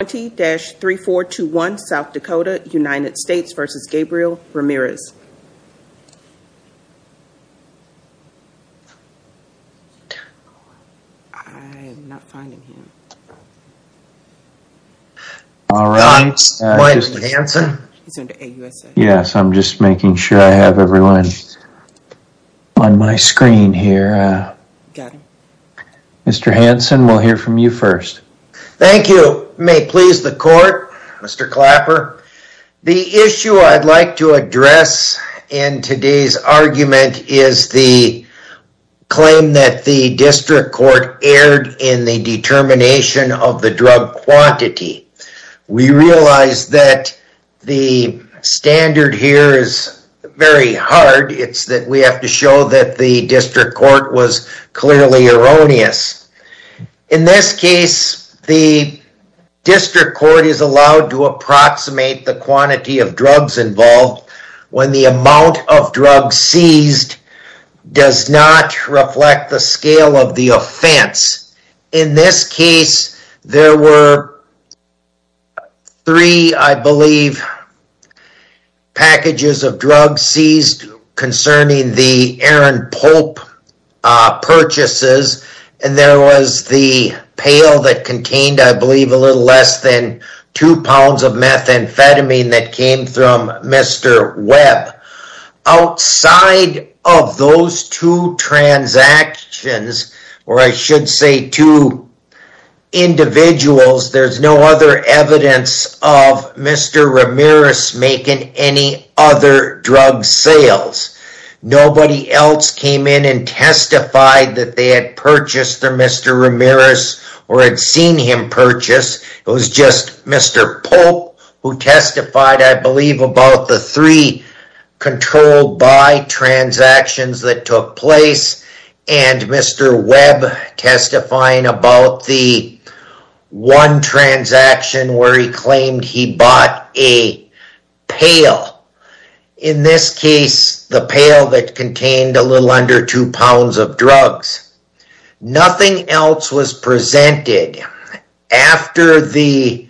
20-3421 South Dakota, United States v. Gabriel Ramirez All right Yes, I'm just making sure I have everyone On my screen here Mr. Hanson, we'll hear from you first. Thank you. May please the court. Mr. Clapper the issue I'd like to address in today's argument is the Claim that the district court erred in the determination of the drug quantity we realized that the Standard here is very hard It's that we have to show that the district court was clearly erroneous in this case the District court is allowed to approximate the quantity of drugs involved when the amount of drugs seized Does not reflect the scale of the offense in this case there were Three I believe Packages of drugs seized concerning the Aaron Pope Purchases and there was the pail that contained I believe a little less than two pounds of methamphetamine that came from Mr. Webb outside of those two transactions or I should say two Individuals there's no other evidence of Mr. Ramirez making any other drug sales Nobody else came in and testified that they had purchased their Mr. Ramirez or had seen him purchase It was just Mr. Pope who testified I believe about the three controlled by transactions that took place and Mr. Webb testifying about the one transaction where he claimed he bought a pail in This case the pail that contained a little under two pounds of drugs Nothing else was presented after the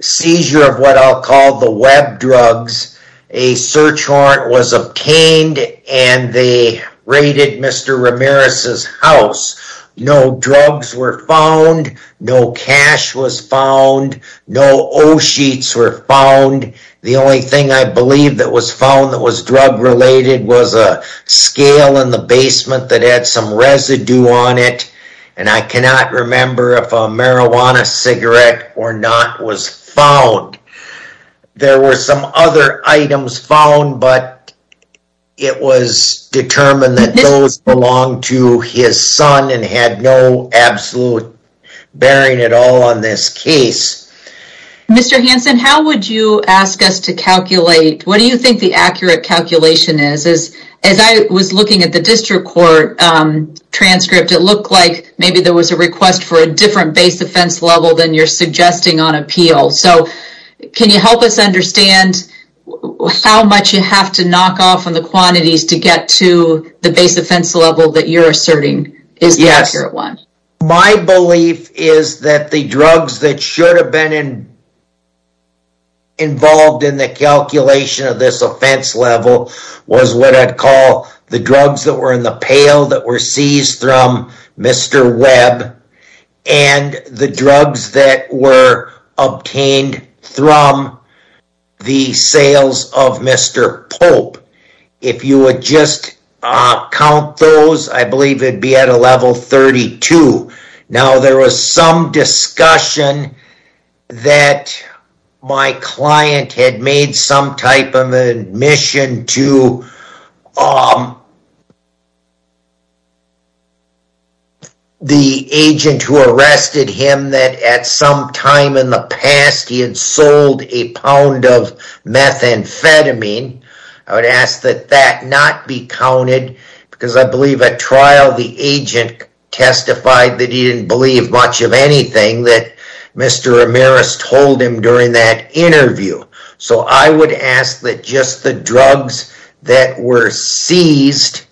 seizure of what I'll call the web drugs a Search warrant was obtained and they raided Mr. Ramirez's house No drugs were found No cash was found No, oh sheets were found the only thing I believe that was found that was drug-related was a Scale in the basement that had some residue on it And I cannot remember if a marijuana cigarette or not was found there were some other items found but It was Determined that those belong to his son and had no absolute Bearing at all on this case Mr. Hanson, how would you ask us to calculate? What do you think the accurate calculation is as as I was looking at the district court? Transcript it looked like maybe there was a request for a different base offense level than you're suggesting on appeal. So Can you help us understand? How much you have to knock off on the quantities to get to the base offense level that you're asserting is Yes, you're at one. My belief is that the drugs that should have been in Involved in the calculation of this offense level was what I'd call the drugs that were in the pail that were seized from Mr. Webb and the drugs that were obtained from The sales of mr. Pope if you would just Count those I believe it'd be at a level 32 now. There was some discussion that my client had made some type of admission to The Agent who arrested him that at some time in the past he had sold a pound of Methamphetamine I would ask that that not be counted because I believe at trial the agent Testified that he didn't believe much of anything that mr. Amiris told him during that interview So I would ask that just the drugs that were seized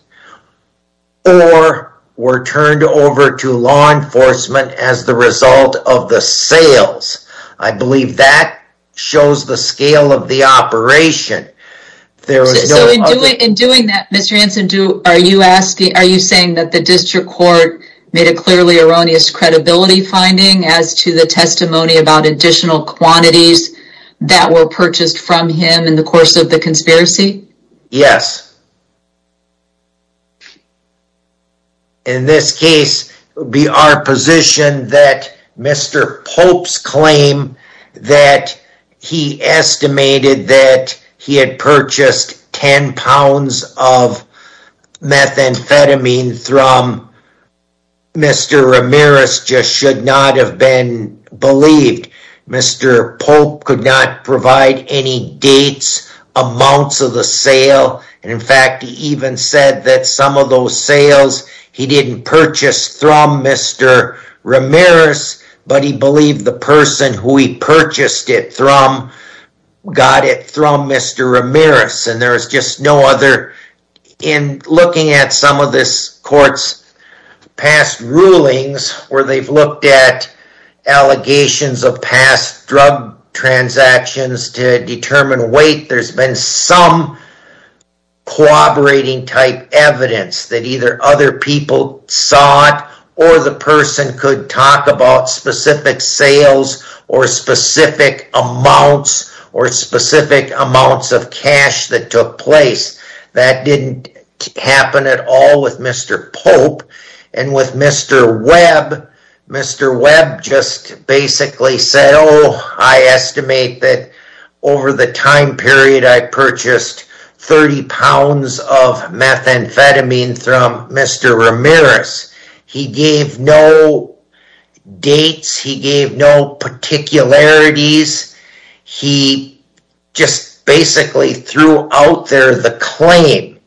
Or were turned over to law enforcement as the result of the sales I believe that shows the scale of the operation There was no in doing that. Mr. Anson. Do are you asking? Are you saying that the district court made a clearly erroneous credibility finding as to the testimony about additional quantities? That were purchased from him in the course of the conspiracy. Yes In this case would be our position that mr. Pope's claim that he estimated that he had purchased 10 pounds of Methamphetamine from Mr. Amiris just should not have been believed Mr. Pope could not provide any dates Amounts of the sale and in fact, he even said that some of those sales he didn't purchase from mr. Ramirez, but he believed the person who he purchased it from Got it from mr. Amiris, and there's just no other in Looking at some of this courts past rulings where they've looked at Allegations of past drug transactions to determine weight there's been some Cooperating type evidence that either other people saw it or the person could talk about specific sales or specific amounts or specific amounts of cash that took place that didn't Happen at all with mr. Pope and with mr. Webb Mr. Webb just basically said oh I estimate that over the time period I purchased 30 pounds of Methamphetamine from mr. Ramirez. He gave no Dates he gave no particularities he Just basically threw out there the claim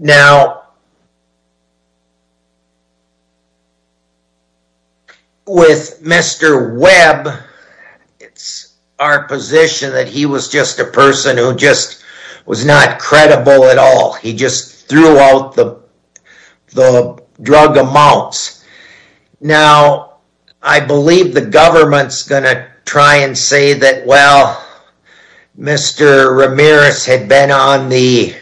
now With mr. Webb It's our position that he was just a person who just was not credible at all. He just threw out the the drug amounts Now, I believe the government's gonna try and say that well Mr. Ramirez had been on the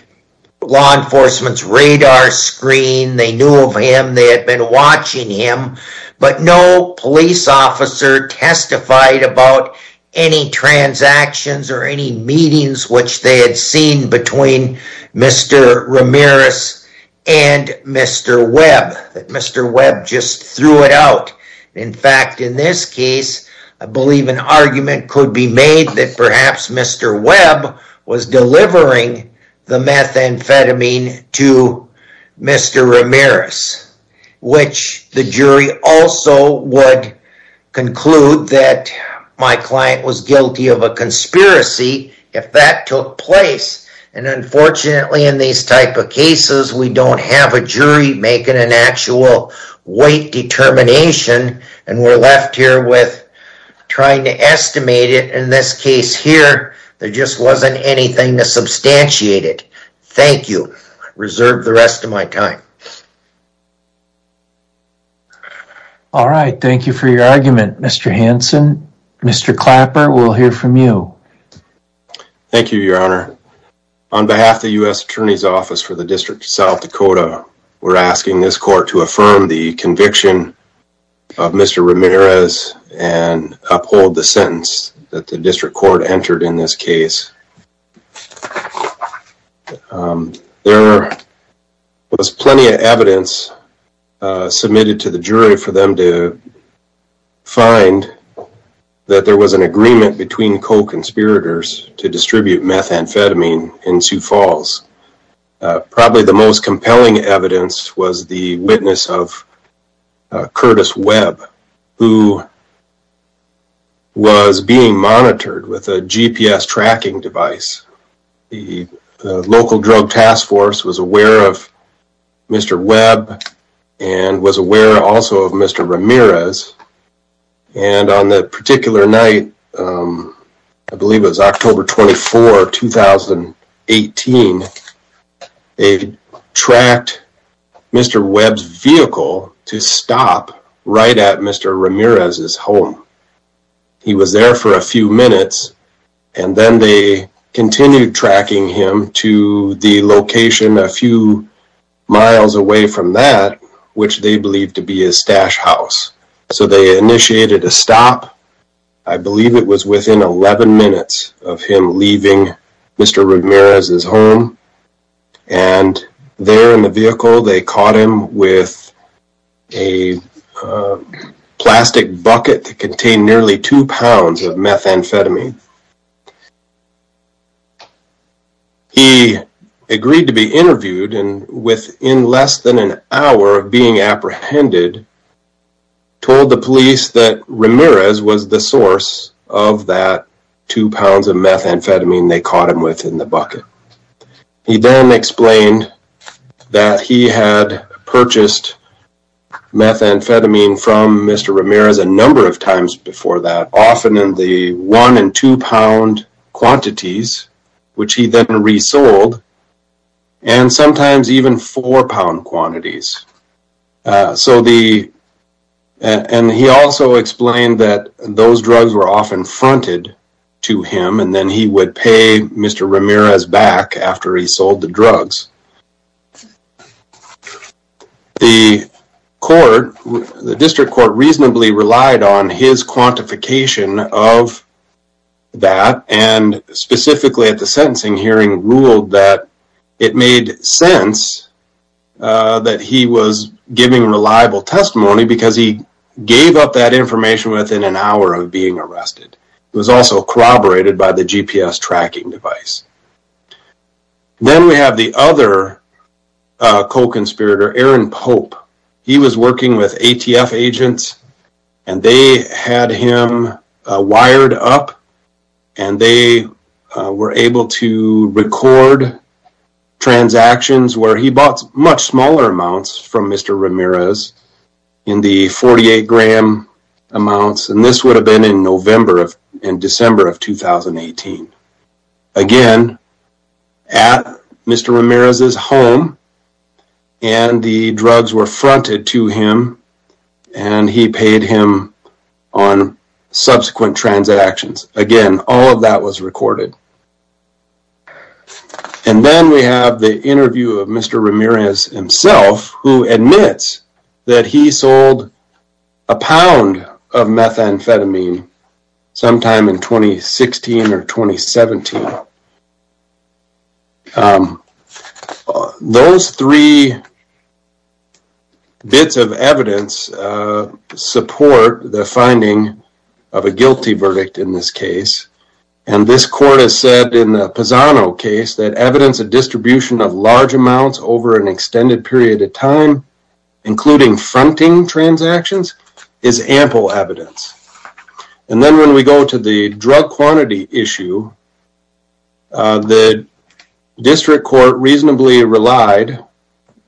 Law enforcement's radar screen. They knew of him. They had been watching him but no police officer testified about any Transactions or any meetings which they had seen between Mr. Ramirez and Mr. Webb that mr. Webb just threw it out. In fact in this case I believe an argument could be made that perhaps mr. Webb was delivering the methamphetamine to mr. Ramirez Which the jury also would conclude that my client was guilty of a conspiracy if that took place and Unfortunately in these type of cases, we don't have a jury making an actual weight determination And we're left here with Trying to estimate it in this case here. There just wasn't anything to substantiate it. Thank you reserve the rest of my time All Right. Thank you for your argument. Mr. Hanson. Mr. Clapper. We'll hear from you Thank you, your honor on behalf of the US Attorney's Office for the District of South Dakota We're asking this court to affirm the conviction of mr. Ramirez and Uphold the sentence that the district court entered in this case There Was plenty of evidence submitted to the jury for them to find That there was an agreement between co-conspirators to distribute methamphetamine in Sioux Falls probably the most compelling evidence was the witness of Curtis Webb who? Was being monitored with a GPS tracking device the local drug task force was aware of Mr. Webb and was aware also of mr. Ramirez And on that particular night I believe was October 24 2018 a tracked Mr. Webb's vehicle to stop right at mr. Ramirez's home he was there for a few minutes and then they Continued tracking him to the location a few Miles away from that which they believed to be his stash house. So they initiated a stop. I Believe it was within 11 minutes of him leaving. Mr. Ramirez is home and There in the vehicle they caught him with a Plastic bucket to contain nearly two pounds of methamphetamine He agreed to be interviewed and within less than an hour of being apprehended Told the police that Ramirez was the source of that two pounds of methamphetamine. They caught him within the bucket He then explained that he had purchased Methamphetamine from mr. Ramirez a number of times before that often in the one and two pound quantities which he then resold and sometimes even four pound quantities so the And he also explained that those drugs were often fronted to him and then he would pay mr. Ramirez back After he sold the drugs The court the district court reasonably relied on his quantification of that and Specifically at the sentencing hearing ruled that it made sense That he was giving reliable testimony because he gave up that information within an hour of being arrested It was also corroborated by the GPS tracking device Then we have the other Co-conspirator Aaron Pope he was working with ATF agents and they had him wired up and they Were able to record Transactions where he bought much smaller amounts from mr. Ramirez in the 48 gram Amounts and this would have been in November of in December of 2018 Again at Mr. Ramirez is home and the drugs were fronted to him and He paid him on Subsequent transactions again. All of that was recorded and Then we have the interview of mr. Ramirez himself who admits that he sold a pound of methamphetamine sometime in 2016 or 2017 Those three Bits of evidence Support the finding of a guilty verdict in this case And this court has said in the Pisano case that evidence a distribution of large amounts over an extended period of time including fronting Transactions is ample evidence and then when we go to the drug quantity issue The District Court reasonably relied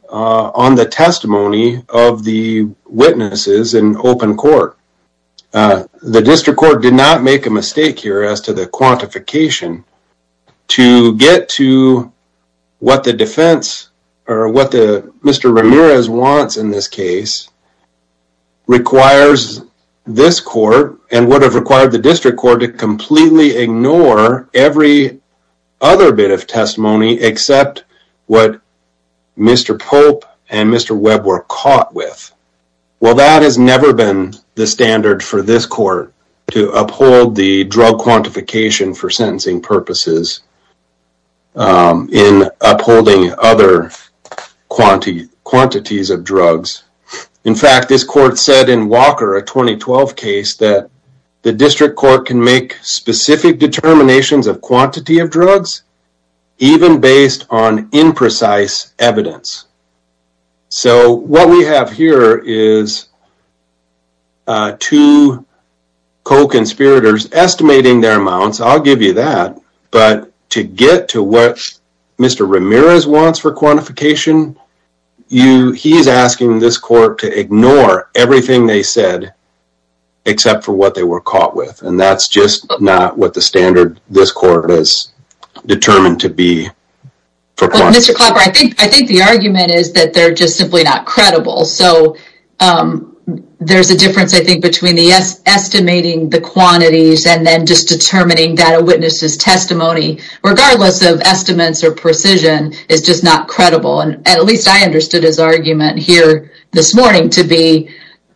on the testimony of the witnesses in open court The district court did not make a mistake here as to the quantification to get to What the defense or what the mr. Ramirez wants in this case? Requires this court and would have required the district court to completely ignore every other bit of testimony except what Mr. Pope and mr. Webb were caught with Well that has never been the standard for this court to uphold the drug quantification for sentencing purposes In upholding other Quantity quantities of drugs in fact This court said in Walker a 2012 case that the district court can make specific determinations of quantity of drugs even based on imprecise evidence so what we have here is Two Co-conspirators estimating their amounts. I'll give you that but to get to what? Mr. Ramirez wants for quantification You he's asking this court to ignore everything they said Except for what they were caught with and that's just not what the standard this court is determined to be Mr. Clapper, I think I think the argument is that they're just simply not credible. So There's a difference I think between the yes estimating the quantities and then just determining that a witness's testimony Regardless of estimates or precision is just not credible and at least I understood his argument here this morning to be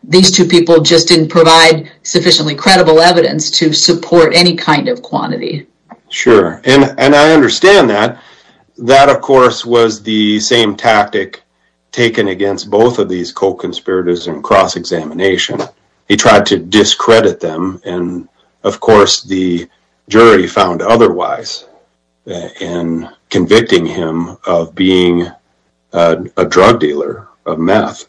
These two people just didn't provide sufficiently credible evidence to support any kind of quantity Sure, and and I understand that That of course was the same tactic taken against both of these co-conspirators and cross-examination He tried to discredit them and of course the jury found otherwise and convicting him of being a drug dealer of meth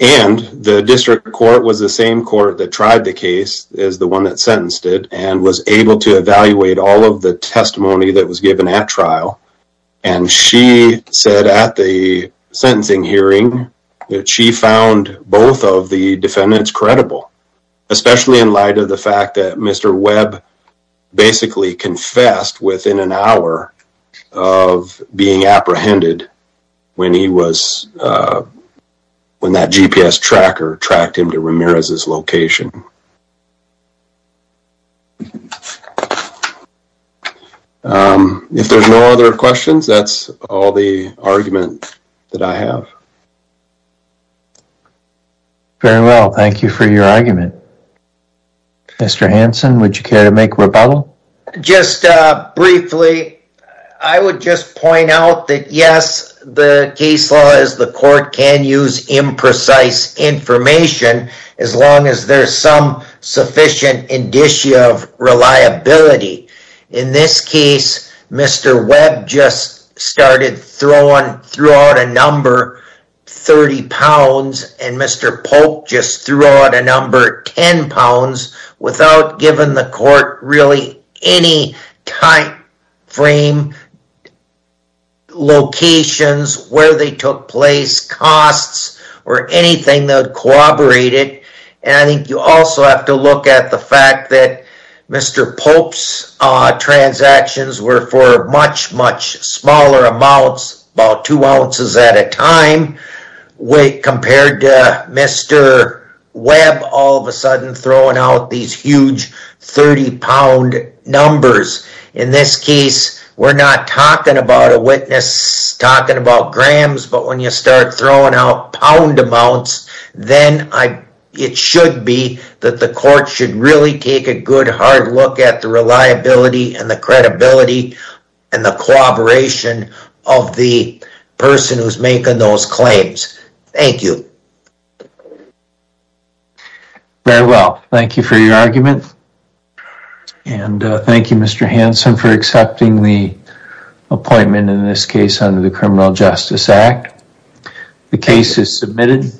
and the district court was the same court that tried the case as the one that sentenced it and was able to evaluate all of the testimony that was given at trial and she said at the Sentencing hearing that she found both of the defendants credible Especially in light of the fact that mr. Webb Basically confessed within an hour of being apprehended when he was When that GPS tracker tracked him to Ramirez's location If there's no other questions, that's all the argument that I have Very well, thank you for your argument Mr. Hanson, would you care to make rebuttal just Briefly, I would just point out that yes, the case law is the court can use imprecise Information as long as there's some sufficient indicia of reliability in this case Mr. Webb just started throwing threw out a number 30 pounds and mr. Pope just threw out a number 10 pounds without giving the court really any tight frame Locations where they took place Costs or anything that corroborated and I think you also have to look at the fact that mr. Pope's Transactions were for much much smaller amounts about two ounces at a time weight compared to mr. Webb all of a sudden throwing out these huge 30 pound numbers in this case. We're not talking about a witness Talking about grams, but when you start throwing out pound amounts Then I it should be that the court should really take a good hard look at the reliability and the credibility and the collaboration of the Person who's making those claims. Thank you Very well, thank you for your argument And thank you. Mr. Hanson for accepting the appointment in this case under the criminal justice act The case is submitted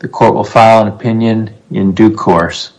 The court will file an opinion in due course